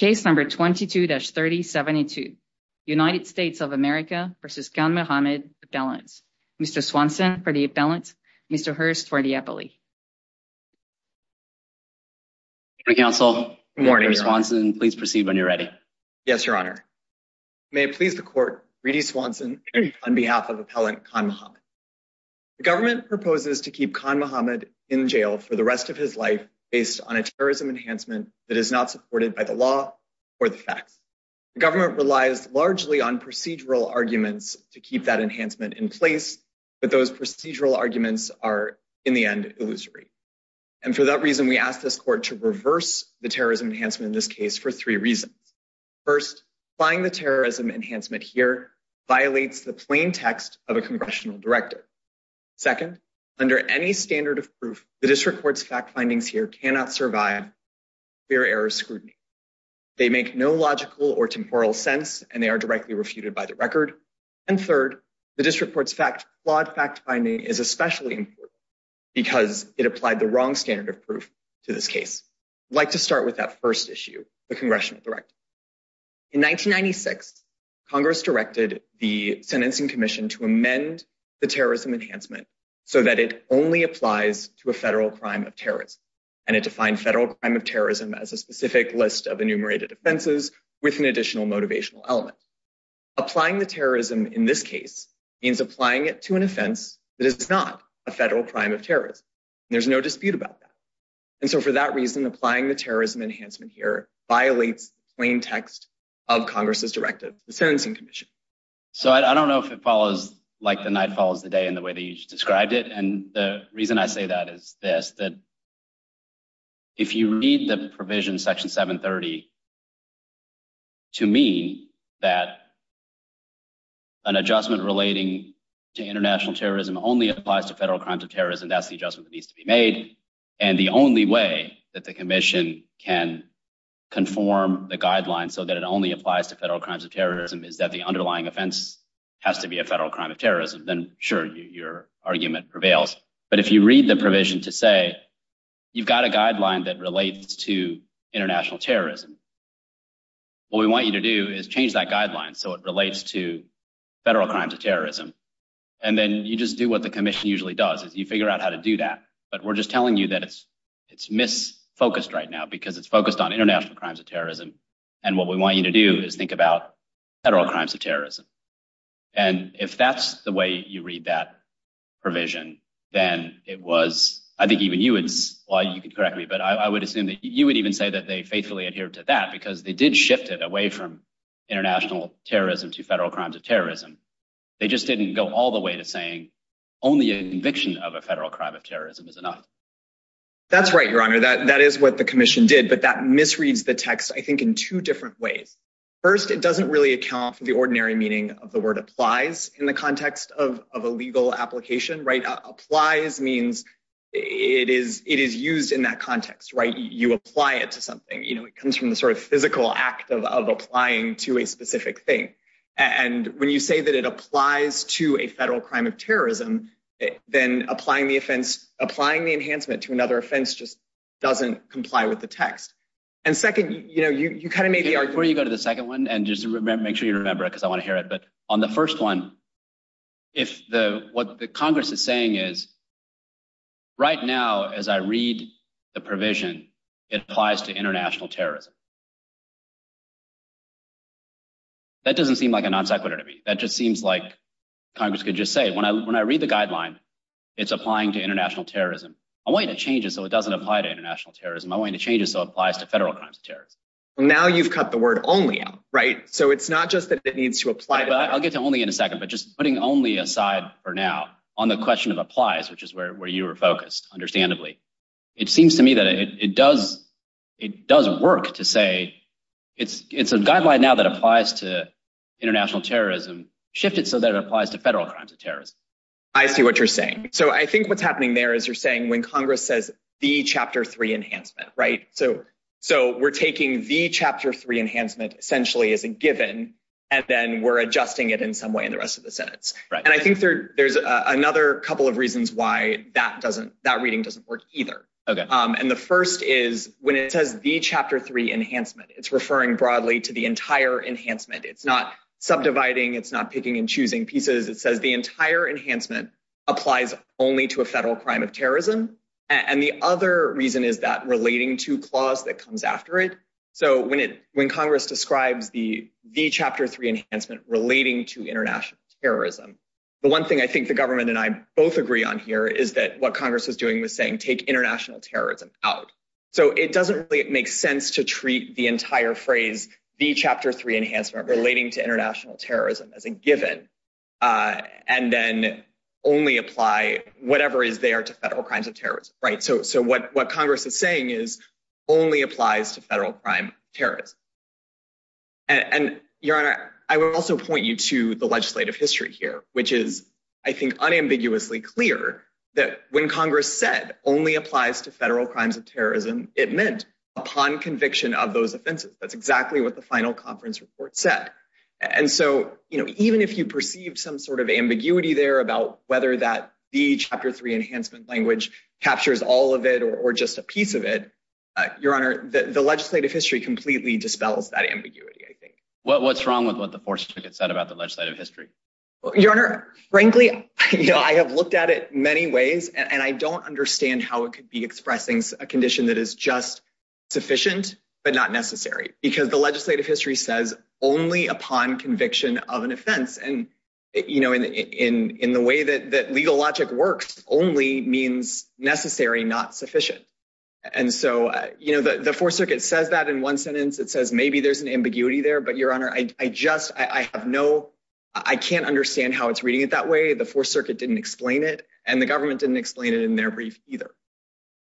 22-3072 United States of America v. Khan Mohammed, Appellants Mr. Swanson for the Appellant, Mr. Hurst for the Appellee Good morning, Counsel. Mr. Swanson, please proceed when you're ready. Yes, Your Honor. May it please the Court, Reedy Swanson on behalf of Appellant Khan Mohammed. The government proposes to keep Khan Mohammed in jail for the rest of his life based on a terrorism enhancement that is not supported by the law or the facts. The government relies largely on procedural arguments to keep that enhancement in place, but those procedural arguments are, in the end, illusory. And for that reason, we ask this Court to reverse the terrorism enhancement in this case for three reasons. First, applying the terrorism enhancement here violates the plain text of a congressional directive. Second, under any standard of proof, the District Court's fact findings here cannot survive clear error scrutiny. They make no logical or temporal sense, and they are directly refuted by the record. And third, the District Court's flawed fact finding is especially important because it applied the wrong standard of proof to this case. I'd like to start with that first issue, the congressional directive. In 1996, Congress directed the Sentencing Commission to amend the terrorism enhancement so that it only applies to a federal crime of terrorism, and it defined federal crime of terrorism as a specific list of enumerated offenses with an additional motivational element. Applying the terrorism in this case means applying it to an offense that is not a federal crime of terrorism, and there's no dispute about that. And so for that reason, applying the terrorism enhancement here violates the plain text of Congress's directive, the Sentencing Commission. So I don't know if it follows like the night follows the day in the way that you described it, and the reason I say that is this, that if you read the provision, Section 730, to mean that an adjustment relating to international terrorism only applies to federal crimes of terrorism, that's the adjustment that needs to be made, and the only way that the commission can conform the guidelines so that it only applies to federal crimes of terrorism is that the underlying offense has to be a federal crime of terrorism, then sure, your argument prevails. But if you read the provision to say you've got a guideline that relates to international terrorism, what we want you to do is change that guideline so it relates to federal crimes of terrorism, and then you just do what the commission usually does, is you figure out how to do that. But we're just telling you that it's misfocused right now because it's focused on international crimes of terrorism, and what we want you to do is think about federal crimes of terrorism. And if that's the way you read that provision, then it was, I think even you would, well, you can correct me, but I would assume that you would even say that they faithfully adhere to that because they did shift it away from international terrorism to federal crimes of terrorism. They just didn't go all the way to saying only an eviction of a federal crime of terrorism is enough. That's right, Your Honor, that is what the commission did, but that misreads the text, I think, in two different ways. First, it doesn't really account for the ordinary meaning of the word applies in the context of a legal application, right? Applies means it is used in that context, right? You apply it to something, you know, it comes from the sort of physical act of applying to a specific thing. And when you say that it applies to a federal crime of terrorism, then applying the offense, applying the enhancement to another offense just doesn't comply with the text. And second, you know, you kind of made the argument. Before you go to the second one, and just make sure you remember it because I want to hear it. But on the first one, if what the Congress is saying is right now, as I read the provision, it applies to international terrorism. That doesn't seem like a non sequitur to me. That just seems like Congress could just say when I when I read the guideline, it's applying to international terrorism. I want to change it so it doesn't apply to international terrorism. I want to change it so it applies to federal crimes of terrorism. Now you've cut the word only out, right? So it's not just that it needs to apply. I'll get to only in a second. But just putting only aside for now on the question of applies, which is where you are focused. It seems to me that it does. It doesn't work to say it's it's a guideline now that applies to international terrorism shifted so that it applies to federal crimes of terrorism. I see what you're saying. So I think what's happening there is you're saying when Congress says the chapter three enhancement. Right. So so we're taking the chapter three enhancement essentially as a given. And then we're adjusting it in some way in the rest of the Senate. And I think there's another couple of reasons why that doesn't that reading doesn't work either. And the first is when it says the chapter three enhancement, it's referring broadly to the entire enhancement. It's not subdividing. It's not picking and choosing pieces. It says the entire enhancement applies only to a federal crime of terrorism. And the other reason is that relating to clause that comes after it. So when it when Congress describes the the chapter three enhancement relating to international terrorism, the one thing I think the government and I both agree on here is that what Congress is doing was saying, take international terrorism out. So it doesn't really make sense to treat the entire phrase, the chapter three enhancement relating to international terrorism as a given. And then only apply whatever is there to federal crimes of terrorism. Right. So so what what Congress is saying is only applies to federal crime, terrorism. And your honor, I would also point you to the legislative history here, which is, I think, unambiguously clear that when Congress said only applies to federal crimes of terrorism, it meant upon conviction of those offenses. That's exactly what the final conference report said. And so, you know, even if you perceive some sort of ambiguity there about whether that the chapter three enhancement language captures all of it or just a piece of it. Your honor, the legislative history completely dispels that ambiguity. I think. What's wrong with what the force said about the legislative history? Your honor. Frankly, I have looked at it many ways and I don't understand how it could be expressing a condition that is just sufficient, but not necessary because the legislative history says only upon conviction of an offense. And, you know, in in in the way that that legal logic works only means necessary, not sufficient. And so, you know, the 4th Circuit says that in one sentence, it says maybe there's an ambiguity there. But your honor, I just I have no I can't understand how it's reading it that way. The 4th Circuit didn't explain it and the government didn't explain it in their brief either.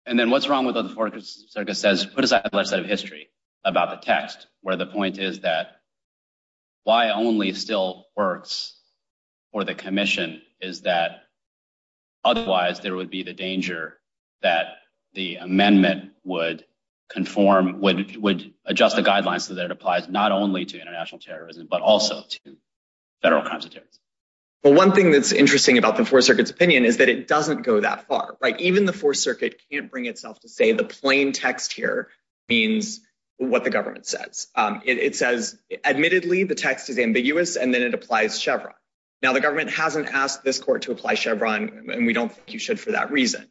And then what's wrong with the 4th Circuit says, what is that set of history about the text where the point is that why only still works for the commission? Is that otherwise there would be the danger that the amendment would conform, would would adjust the guidelines so that it applies not only to international terrorism, but also to federal crimes. But one thing that's interesting about the 4th Circuit's opinion is that it doesn't go that far. Right. Even the 4th Circuit can't bring itself to say the plain text here means what the government says. It says admittedly, the text is ambiguous and then it applies Chevron. Now, the government hasn't asked this court to apply Chevron. And we don't think you should for that reason.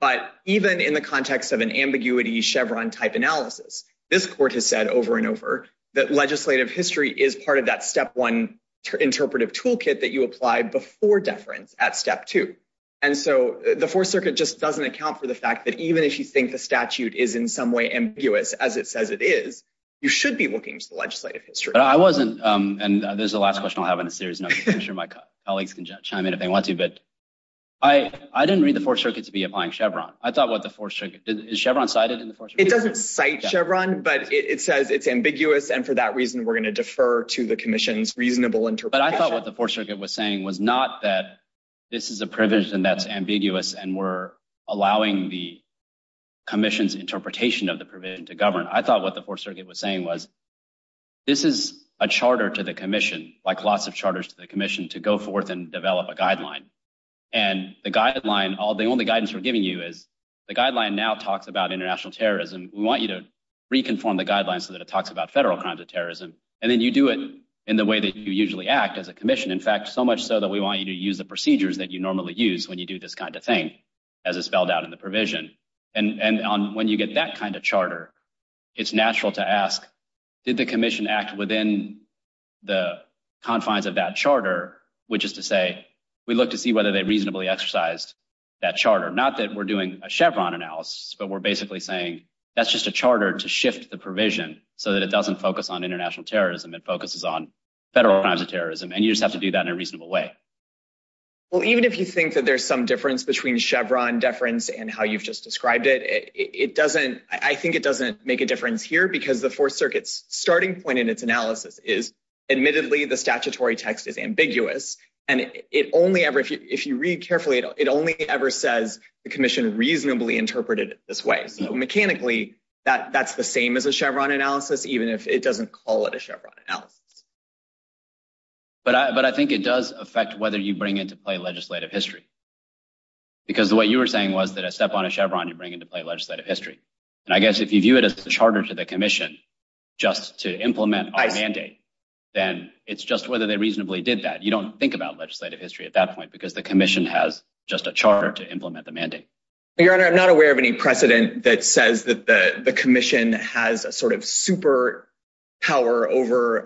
But even in the context of an ambiguity Chevron type analysis, this court has said over and over that legislative history is part of that step one interpretive toolkit that you apply before deference at step two. And so the 4th Circuit just doesn't account for the fact that even if you think the statute is in some way ambiguous, as it says it is, you should be looking to the legislative history. But I wasn't. And this is the last question I'll have in a series of my colleagues can chime in if they want to. But I, I didn't read the 4th Circuit to be applying Chevron. I thought what the 4th Circuit Chevron cited in the 4th Circuit. It doesn't cite Chevron, but it says it's ambiguous. And for that reason, we're going to defer to the commission's reasonable interpretation. But I thought what the 4th Circuit was saying was not that this is a provision that's ambiguous and we're allowing the commission's interpretation of the provision to govern. I thought what the 4th Circuit was saying was this is a charter to the commission, like lots of charters to the commission to go forth and develop a guideline. And the guideline, all the only guidance we're giving you is the guideline now talks about international terrorism. We want you to reconfirm the guidelines so that it talks about federal crimes of terrorism. And then you do it in the way that you usually act as a commission. In fact, so much so that we want you to use the procedures that you normally use when you do this kind of thing as a spelled out in the provision. And when you get that kind of charter, it's natural to ask, did the commission act within the confines of that charter? Which is to say, we look to see whether they reasonably exercised that charter. Not that we're doing a Chevron analysis, but we're basically saying that's just a charter to shift the provision so that it doesn't focus on international terrorism. It focuses on federal crimes of terrorism. And you just have to do that in a reasonable way. Well, even if you think that there's some difference between Chevron deference and how you've just described it, it doesn't I think it doesn't make a difference here. Because the 4th Circuit's starting point in its analysis is admittedly the statutory text is ambiguous. And it only ever if you read carefully, it only ever says the commission reasonably interpreted this way. So, mechanically, that that's the same as a Chevron analysis, even if it doesn't call it a Chevron analysis. But I think it does affect whether you bring into play legislative history. Because the way you were saying was that a step on a Chevron, you bring into play legislative history. And I guess if you view it as a charter to the commission just to implement a mandate, then it's just whether they reasonably did that. You don't think about legislative history at that point, because the commission has just a charter to implement the mandate. Your Honor, I'm not aware of any precedent that says that the commission has a sort of super power over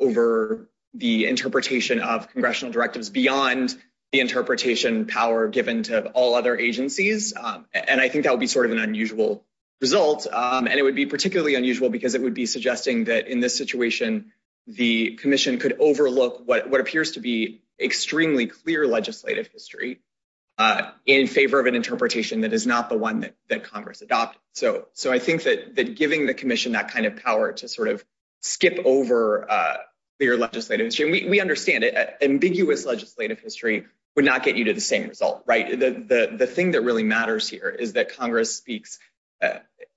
over the interpretation of congressional directives beyond the interpretation power given to all other agencies. And I think that would be sort of an unusual result. And it would be particularly unusual because it would be suggesting that in this situation, the commission could overlook what appears to be extremely clear legislative history in favor of an interpretation that is not the one that Congress adopted. So, so I think that giving the commission that kind of power to sort of skip over your legislative history, we understand it. Ambiguous legislative history would not get you to the same result. Right? The thing that really matters here is that Congress speaks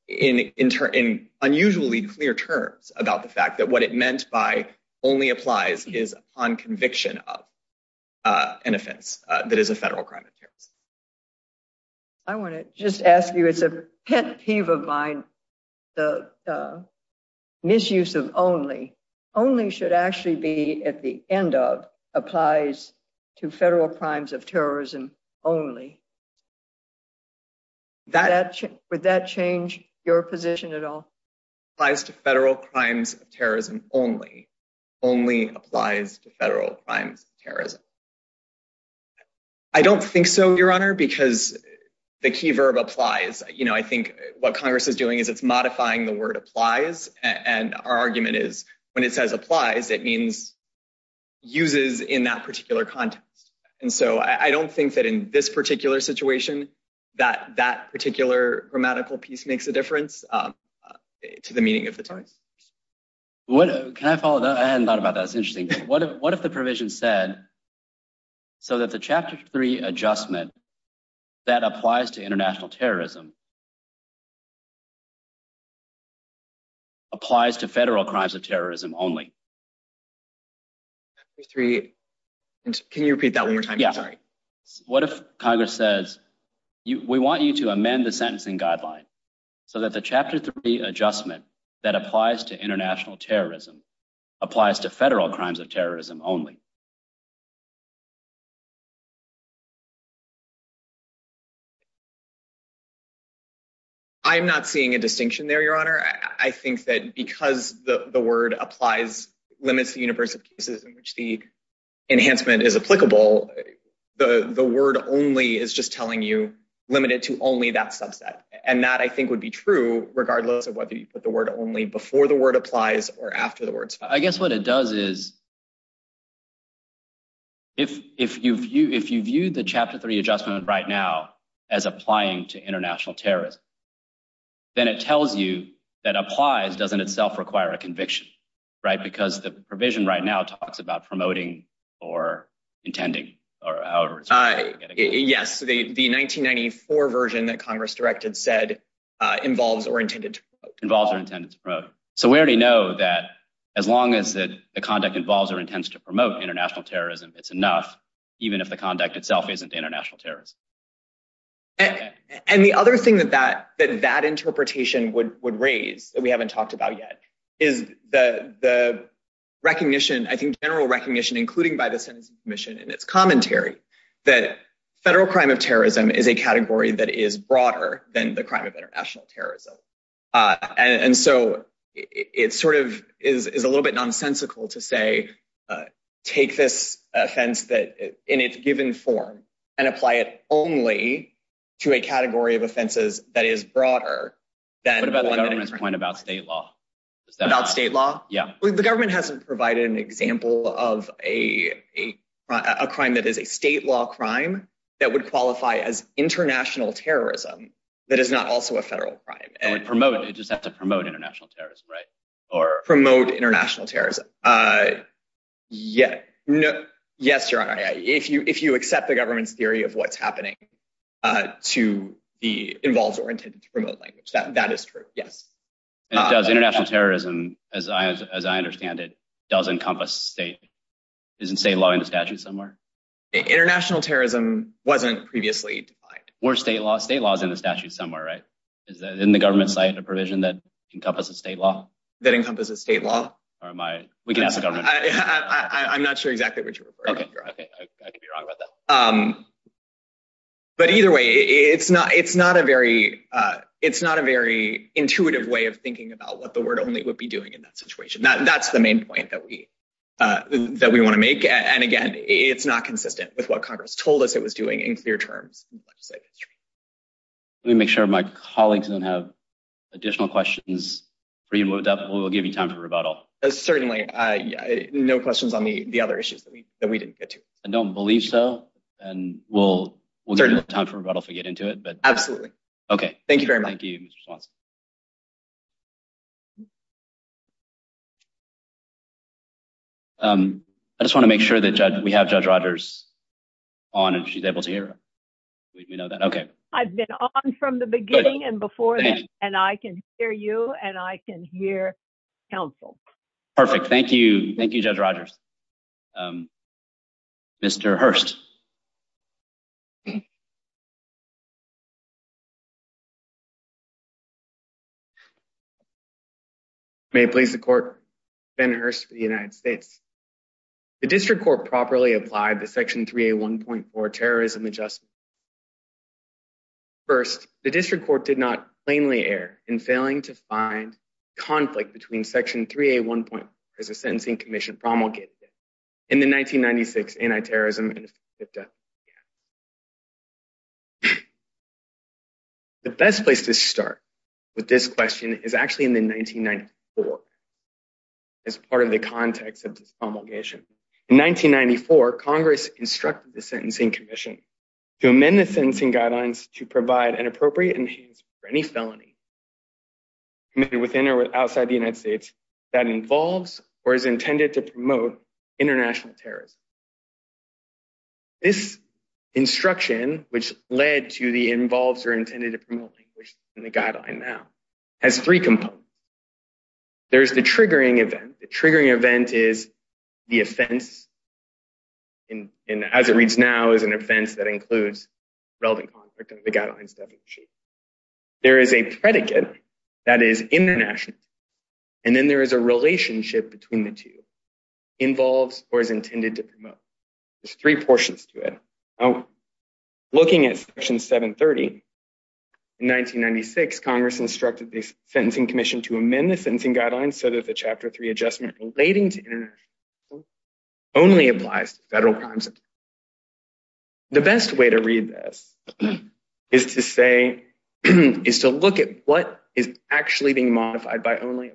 in in unusually clear terms about the fact that what it meant by only applies is on conviction of an offense that is a federal crime. I want to just ask you, it's a pet peeve of mine. The misuse of only only should actually be at the end of applies to federal crimes of terrorism only. That would that change your position at all? I don't think so, your honor, because the key verb applies. You know, I think what Congress is doing is it's modifying the word applies. And our argument is when it says applies, it means uses in that particular context. And so I don't think that in this particular situation, that that particular grammatical piece makes a difference to the meaning of the terms. What can I follow? I hadn't thought about that. It's interesting. What if what if the provision said so that the chapter three adjustment that applies to international terrorism applies to federal crimes of terrorism only? Three, can you repeat that one more time? Yeah. Sorry. What if Congress says, we want you to amend the sentencing guideline so that the chapter three adjustment that applies to international terrorism applies to federal crimes of terrorism only. I'm not seeing a distinction there, your honor. I think that because the word applies limits the universe of cases in which the enhancement is applicable, the word only is just telling you limited to only that subset. And that I think would be true regardless of whether you put the word only before the word applies or after the words. I guess what it does is. If if you view if you view the chapter three adjustment right now as applying to international terrorism. Then it tells you that applies doesn't itself require a conviction, right, because the provision right now talks about promoting or intending or. Yes, the 1994 version that Congress directed said involves or intended to involve or intended to promote. So we already know that as long as the conduct involves or intends to promote international terrorism, it's enough, even if the conduct itself isn't international terrorism. And the other thing that that that that interpretation would would raise that we haven't talked about yet is the recognition, I think, general recognition, including by the commission and its commentary that federal crime of terrorism is a category that is broader than the crime of international terrorism. And so it sort of is a little bit nonsensical to say, take this offense that in its given form and apply it only to a category of offenses that is broader than the government's point about state law. Yeah, the government hasn't provided an example of a crime that is a state law crime that would qualify as international terrorism. That is not also a federal crime and promote. It just have to promote international terrorism, right? Or promote international terrorism. Yeah, no. Yes, you're right. If you if you accept the government's theory of what's happening to the involves or intended to promote language, that that is true. Yes. And it does international terrorism, as I as I understand it, does encompass state is in state law in the statute somewhere. International terrorism wasn't previously defined. Or state law, state laws in the statute somewhere, right? Is that in the government side of provision that encompasses state law? That encompasses state law? Or am I? We can ask the government. I'm not sure exactly what you're referring to. But either way, it's not it's not a very it's not a very intuitive way of thinking about what the word only would be doing in that situation. That's the main point that we that we want to make. And again, it's not consistent with what Congress told us it was doing in clear terms. Let me make sure my colleagues don't have additional questions. We will give you time for rebuttal. Certainly, no questions on the other issues that we that we didn't get to. I don't believe so. And we'll, we'll certainly have time for rebuttal to get into it. But absolutely. Okay. Thank you very much. Thank you. I just want to make sure that we have Judge Rogers on and she's able to hear. We know that. Okay. I've been on from the beginning and before. And I can hear you and I can hear counsel. Perfect. Thank you. Thank you, Judge Rogers. Mr. Hurst. May it please the court, Ben Hurst for the United States. The district court properly applied the Section 3A 1.4 terrorism adjustment. First, the district court did not plainly err in failing to find conflict between Section 3A 1.4 as a sentencing commission promulgated in the 1996 anti-terrorism and effective death penalty act. The best place to start with this question is actually in the 1994. As part of the context of this promulgation. In 1994, Congress instructed the sentencing commission to amend the sentencing guidelines to provide an appropriate enhancement for any felony committed within or outside the United States that involves or is intended to promote international terrorism. This instruction, which led to the involves or intended to promote language in the guideline now, has three components. There's the triggering event. The triggering event is the offense. And as it reads now is an offense that includes relevant conflict in the guidelines definition. There is a predicate that is international. And then there is a relationship between the two. Involves or is intended to promote. There's three portions to it. Looking at Section 730. In 1996, Congress instructed the sentencing commission to amend the sentencing guidelines so that the Chapter 3 adjustment relating to international terrorism only applies to federal crimes. The best way to read this is to say, is to look at what is actually being modified by only.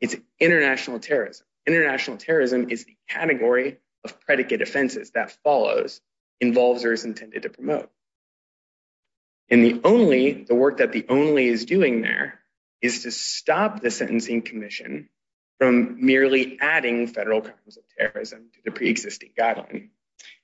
It's international terrorism. International terrorism is the category of predicate offenses that follows. Involves or is intended to promote. And the only, the work that the only is doing there is to stop the sentencing commission from merely adding federal crimes of terrorism to the pre-existing guideline.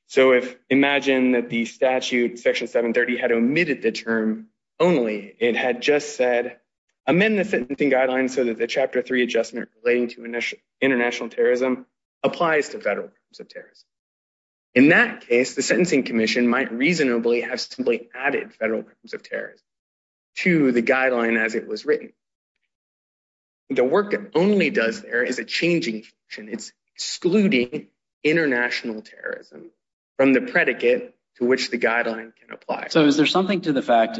So if imagine that the statute, Section 730, had omitted the term only, it had just said, amend the sentencing guidelines so that the Chapter 3 adjustment relating to international terrorism applies to federal crimes of terrorism. In that case, the sentencing commission might reasonably have simply added federal crimes of terrorism to the guideline as it was written. The work it only does there is a changing function. It's excluding international terrorism from the predicate to which the guideline can apply. So is there something to the fact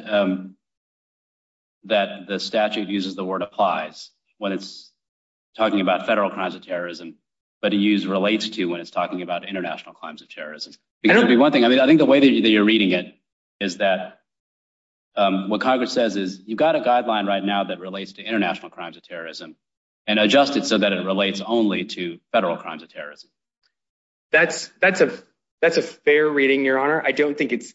that the statute uses the word applies when it's talking about federal crimes of terrorism, but to use relates to when it's talking about international crimes of terrorism? I think the way that you're reading it is that what Congress says is, you've got a guideline right now that relates to international crimes of terrorism and adjust it so that it relates only to federal crimes of terrorism. That's a fair reading, Your Honor. I don't think it's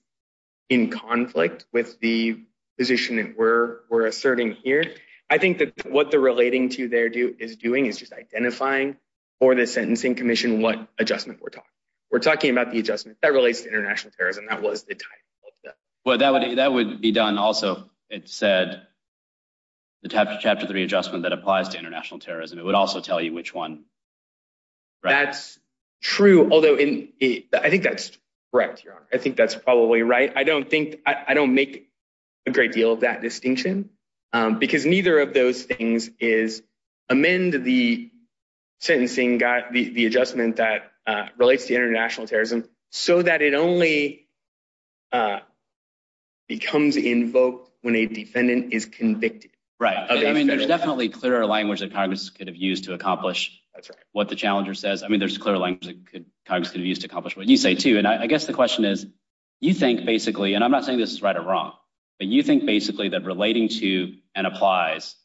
in conflict with the position that we're asserting here. I think that what the relating to there is doing is just identifying for the sentencing commission what adjustment we're talking about. We're talking about the adjustment that relates to international terrorism. That was the title of that. Well, that would be done also. It said the Chapter 3 adjustment that applies to international terrorism. It would also tell you which one. That's true, although I think that's correct, Your Honor. I think that's probably right. I don't make a great deal of that distinction because neither of those things is amend the sentencing, the adjustment that relates to international terrorism so that it only becomes invoked when a defendant is convicted. Right. I mean, there's definitely clearer language that Congress could have used to accomplish what the challenger says. I mean, there's clear language that Congress could have used to accomplish what you say too. I guess the question is, you think basically, and I'm not saying this is right or wrong, but you think basically that relating to and applies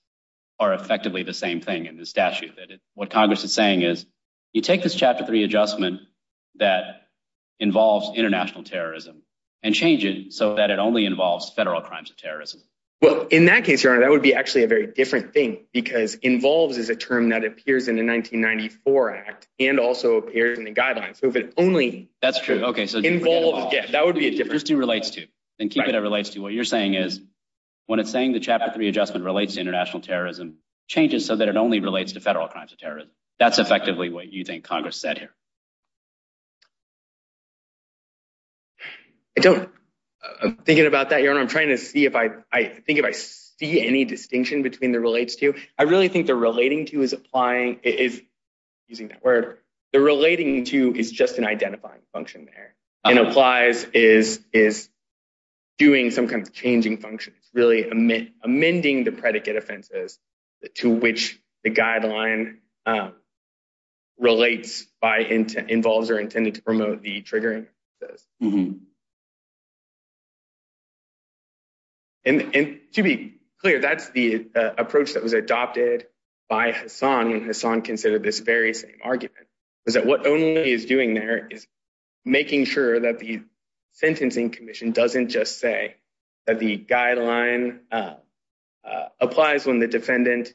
are effectively the same thing in the statute. What Congress is saying is, you take this Chapter 3 adjustment that involves international terrorism and change it so that it only involves federal crimes of terrorism. Well, in that case, Your Honor, that would be actually a very different thing because involves is a term that appears in the 1994 Act and also appears in the guidelines. That's true. That would be a difference. So if it's just relates to, then keep it as relates to. What you're saying is, when it's saying the Chapter 3 adjustment relates to international terrorism, change it so that it only relates to federal crimes of terrorism. That's effectively what you think Congress said here. I don't. I'm thinking about that, Your Honor. I'm trying to see if I think if I see any distinction between the relates to. I really think the relating to is applying is using that word. The relating to is just an identifying function there. And applies is is doing some kind of changing function, really amending the predicate offenses to which the guideline relates by involves or intended to promote the triggering. Mm hmm. And to be clear, that's the approach that was adopted by Hassan when Hassan considered this very same argument was that what only is doing there is making sure that the sentencing commission doesn't just say that the guideline applies when the defendant.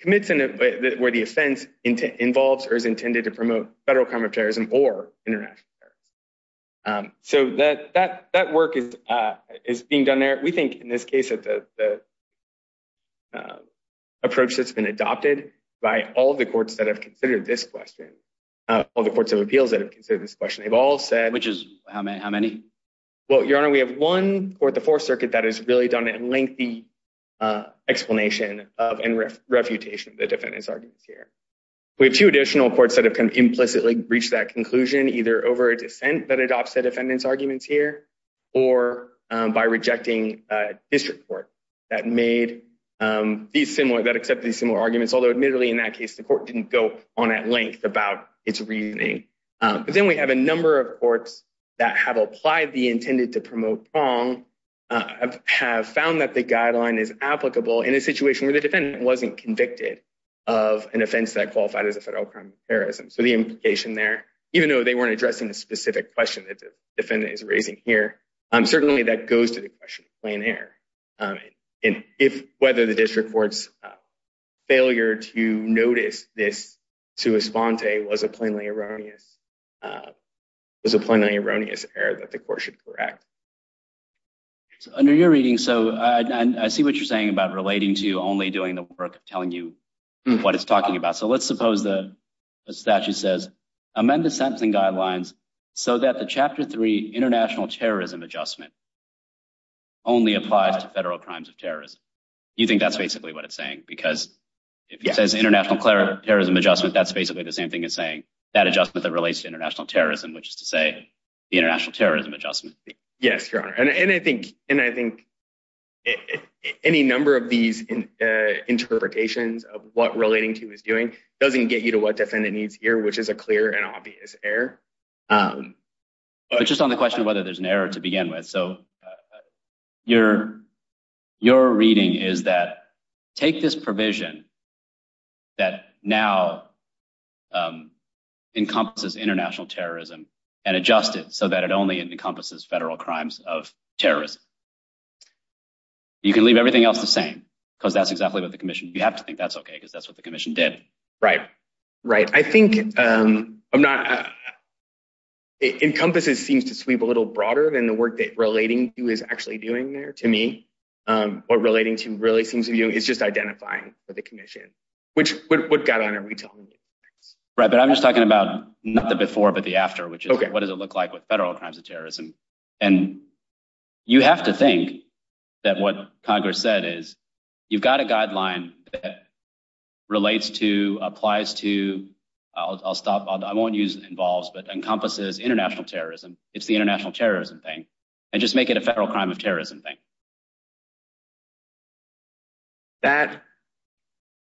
Commits where the offense involves or is intended to promote federal crime of terrorism or international. So that that that work is is being done there. We think in this case that the. Approach that's been adopted by all the courts that have considered this question, all the courts of appeals that have considered this question, they've all said, which is how many, how many? Well, Your Honor, we have one court, the Fourth Circuit, that has really done a lengthy explanation of and refutation of the defendants arguments here. We have two additional courts that have kind of implicitly reached that conclusion, either over a dissent that adopts the defendants arguments here or by rejecting district court that made these similar that accept these similar arguments. Although admittedly, in that case, the court didn't go on at length about its reasoning. But then we have a number of courts that have applied the intended to promote prong, have found that the guideline is applicable in a situation where the defendant wasn't convicted of an offense that qualified as a federal crime of terrorism. So the implication there, even though they weren't addressing a specific question that the defendant is raising here, certainly that goes to the question of plain air. And if whether the district court's failure to notice this to a sponte was a plainly erroneous, was a plainly erroneous error that the court should correct. Under your reading. So I see what you're saying about relating to only doing the work of telling you what it's talking about. So let's suppose the statute says amend the sentencing guidelines so that the Chapter 3 international terrorism adjustment only applies to federal crimes of terrorism. You think that's basically what it's saying? Because if it says international terrorism adjustment, that's basically the same thing as saying that adjustment that relates to international terrorism, which is to say the international terrorism adjustment. Yes, your honor. And I think and I think any number of these interpretations of what relating to is doing doesn't get you to what defendant needs here, which is a clear and obvious error. Just on the question of whether there's an error to begin with. So your your reading is that take this provision. That now encompasses international terrorism and adjust it so that it only encompasses federal crimes of terrorism. You can leave everything else the same because that's exactly what the commission you have to think that's OK, because that's what the commission did. Right. I think I'm not encompasses seems to sweep a little broader than the work that relating to is actually doing there to me. What relating to really seems to you is just identifying for the commission, which would got on every time. Right. But I'm just talking about not the before, but the after, which is what does it look like with federal crimes of terrorism? And you have to think that what Congress said is you've got a guideline that relates to applies to. I'll stop. I won't use involves, but encompasses international terrorism. It's the international terrorism thing. I just make it a federal crime of terrorism thing. That.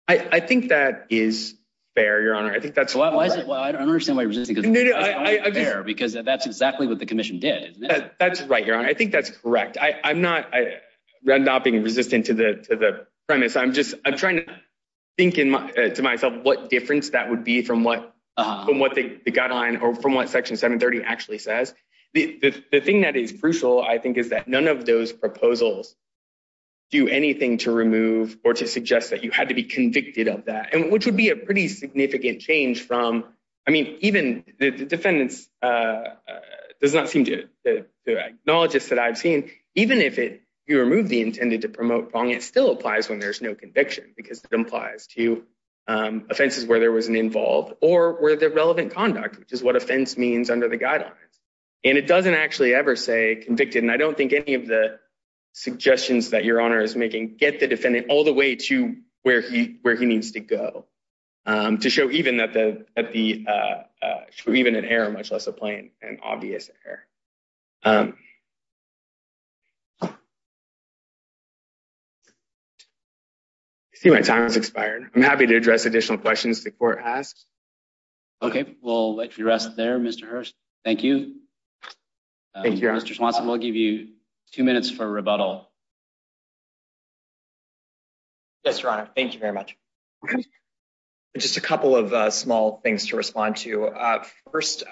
I think that is fair, Your Honor. I think that's why I don't understand why. Because that's exactly what the commission did. That's right, Your Honor. I think that's correct. I'm not I'm not being resistant to the premise. I'm just I'm trying to think to myself what difference that would be from what from what they got on or from what Section 730 actually says. The thing that is crucial, I think, is that none of those proposals do anything to remove or to suggest that you had to be convicted of that, which would be a pretty significant change from I mean, even the defendants does not seem to acknowledge this that I've seen. Even if you remove the intended to promote wrong, it still applies when there's no conviction because it implies to offenses where there was an involved or where the relevant conduct, which is what offense means under the guidelines. And it doesn't actually ever say convicted. And I don't think any of the suggestions that Your Honor is making get the defendant all the way to where he where he needs to go to show even that the at the even an error, much less a plain and obvious error. See, my time has expired. I'm happy to address additional questions. The court asked. Okay, we'll let you rest there, Mr. Hearst. Thank you. Thank you, Mr. Swanson. We'll give you two minutes for rebuttal. Yes, Your Honor. Thank you very much. Just a couple of small things to respond to. First,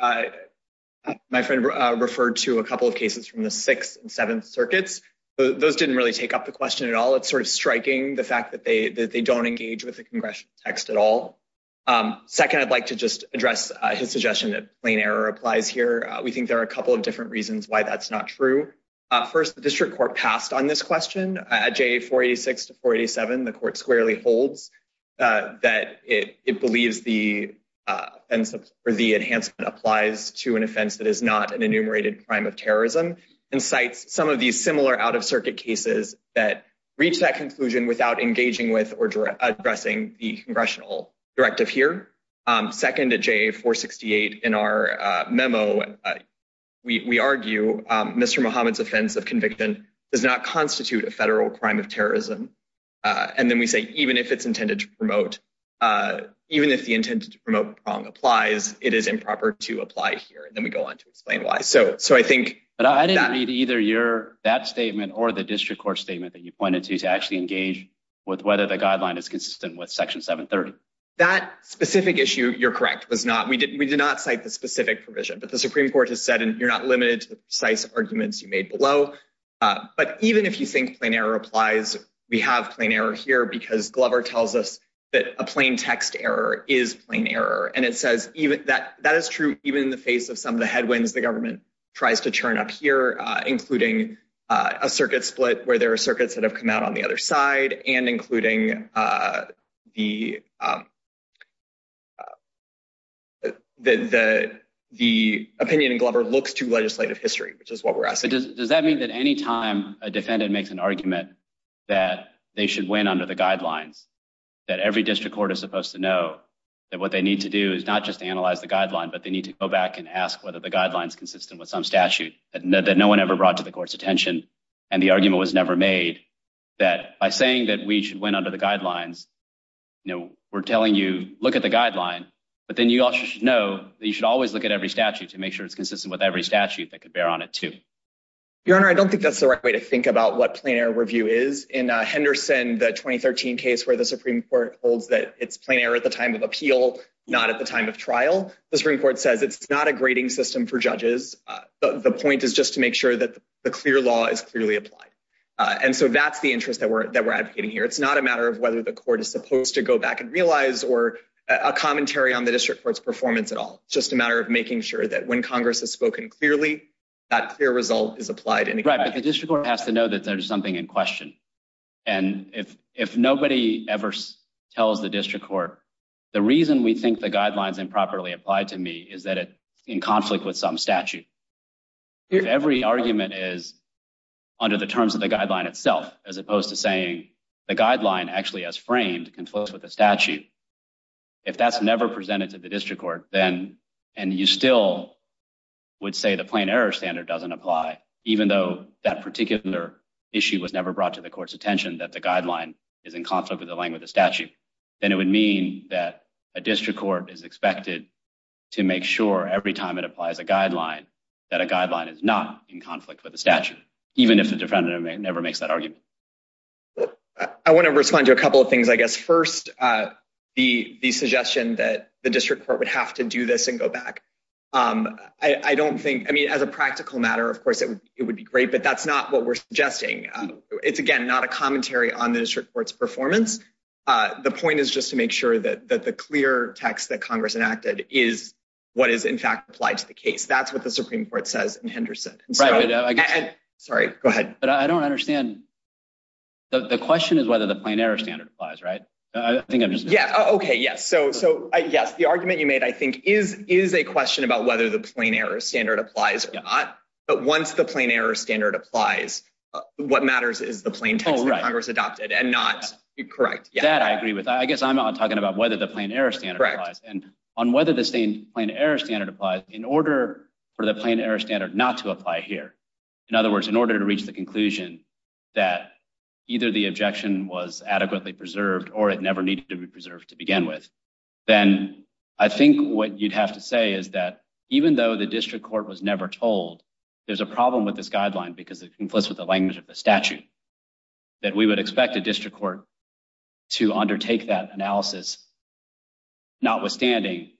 my friend referred to a couple of cases from the sixth and seventh circuits. Those didn't really take up the question at all. It's sort of striking the fact that they don't engage with the question at all. Second, I'd like to just address his suggestion that plain error applies here. We think there are a couple of different reasons why that's not true. First, the district court passed on this question at J 46 to 47. The court squarely holds that it believes the and for the enhancement applies to an offense that is not an enumerated crime of terrorism and cites some of these similar out of circuit cases that reach that conclusion without engaging with So I think that's a positive here. Second, a J 468 in our memo. We argue Mr. Mohammed's offense of convicted does not constitute a federal crime of terrorism. And then we say, even if it's intended to promote, even if the intended to promote wrong applies, it is improper to apply here. And then we go on to explain why. So, so I think I didn't read either your that statement or the district court statement that you pointed to to actually engage with the district court. So I think that that specific issue, you're correct, was not we did. We did not cite the specific provision, but the Supreme Court has said, and you're not limited to the precise arguments you made below. But even if you think plain error applies, we have plain error here because Glover tells us that a plain text error is plain error. And it says even that that is true, even in the face of some of the headwinds, the government tries to turn up here, including a circuit split where there are circuits that have come out on the other side and including the. The the opinion in Glover looks to legislative history, which is what we're asking. Does that mean that any time a defendant makes an argument that they should win under the guidelines that every district court is supposed to know that what they need to do is not just analyze the guideline, but they need to go back and ask whether the guidelines consistent with some statute that no one ever paid close attention. And the argument was never made that by saying that we should win under the guidelines. No, we're telling you, look at the guideline, but then you also know that you should always look at every statute to make sure it's consistent with every statute that could bear on it to your honor. I don't think that's the right way to think about what plain error review is in Henderson. The 2013 case where the Supreme Court holds that it's plain error at the time of appeal, not at the time of trial. The Supreme Court says it's not a grading system for judges. The point is just to make sure that the clear law is clearly applied. And so that's the interest that we're that we're advocating here. It's not a matter of whether the court is supposed to go back and realize or a commentary on the district court's performance at all. Just a matter of making sure that when Congress has spoken clearly, that clear result is applied. And the district court has to know that there's something in question. And if if nobody ever tells the district court, the reason we think the guidelines improperly applied to me is that it's in conflict with some statute. Every argument is under the terms of the guideline itself, as opposed to saying the guideline actually has framed conflicts with the statute. If that's never presented to the district court, then and you still would say the plain error standard doesn't apply, even though that particular issue was never brought to the court's attention, that the guideline is in conflict with the language of the statute, then it would mean that a district court is expected to make sure every time it applies a guideline that a guideline is not in conflict with the statute, even if the defendant never makes that argument. I want to respond to a couple of things, I guess. First, the suggestion that the district court would have to do this and go back. I don't think I mean, as a practical matter, of course, it would be great, but that's not what we're suggesting. It's, again, not a commentary on the district court's performance. The point is just to make sure that the clear text that Congress enacted is what is in fact applied to the case. That's what the Supreme Court says in Henderson. Sorry, go ahead. But I don't understand. The question is whether the plain error standard applies, right? I think I'm just yeah. Okay. Yes. So yes, the argument you made, I think, is is a question about whether the plain error standard applies or not. But once the plain error standard applies, what matters is the plain text that Congress adopted and not correct. That I agree with. I guess I'm not talking about whether the plain error standard applies and on whether the same plain error standard applies in order for the plain error standard not to apply here. In other words, in order to reach the conclusion that either the objection was adequately preserved or it never needed to be preserved to begin with, then I think what you'd have to say is that even though the district court was never told there's a problem with this guideline because it conflicts with the language of the statute, that we would expect a district court to undertake that analysis, notwithstanding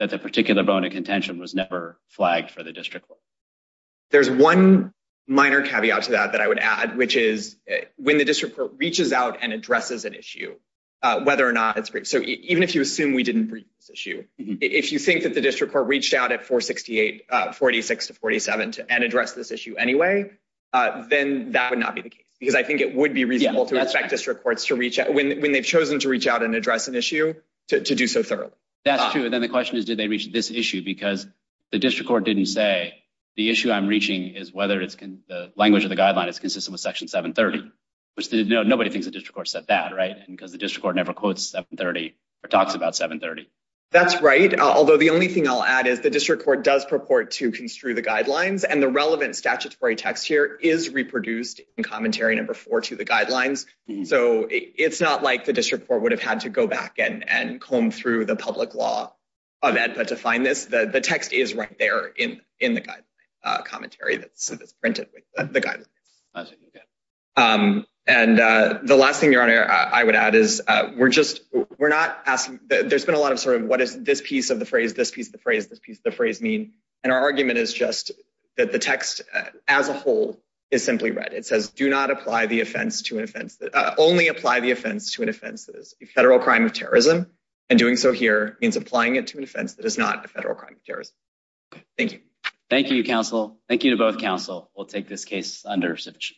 that the particular bone of contention was never flagged for the district court. There's one minor caveat to that that I would add, which is when the district court reaches out and addresses an issue, whether or not it's great. So even if you assume we didn't bring this issue, if you think that the district court reached out at 468, 46 to 47 and address this issue anyway, then that would not be the case because I think it would be reasonable to expect district courts to reach out when they've chosen to reach out and address an issue to do so thoroughly. That's true. And then the question is, did they reach this issue? Because the district court didn't say the issue I'm reaching is whether the language of the guideline is consistent with Section 730, which nobody thinks the district court said that, right? Because the district court never quotes 730 or talks about 730. That's right. Although the only thing I'll add is the district court does purport to construe the language of the guideline. So the text, the statutory text here, is reproduced in commentary number 4 to the guidelines. So it's not like the district court would have had to go back and comb through the public law of EDPA to find this. The text is right there in the guideline commentary that's printed with the guidelines. And the last thing I would add is we're just, we're not asking, there's been a lot of sort of what is this piece of the phrase, this piece of the phrase, this piece of the phrase mean? And our argument is just that the text as a whole is simply read. It says, do not apply the offense to an offense, only apply the offense to an offense that is a federal crime of terrorism. And doing so here means applying it to an offense that is not a federal crime of terrorism. Thank you. Thank you, counsel. Thank you to both counsel. We'll take this case under resumption.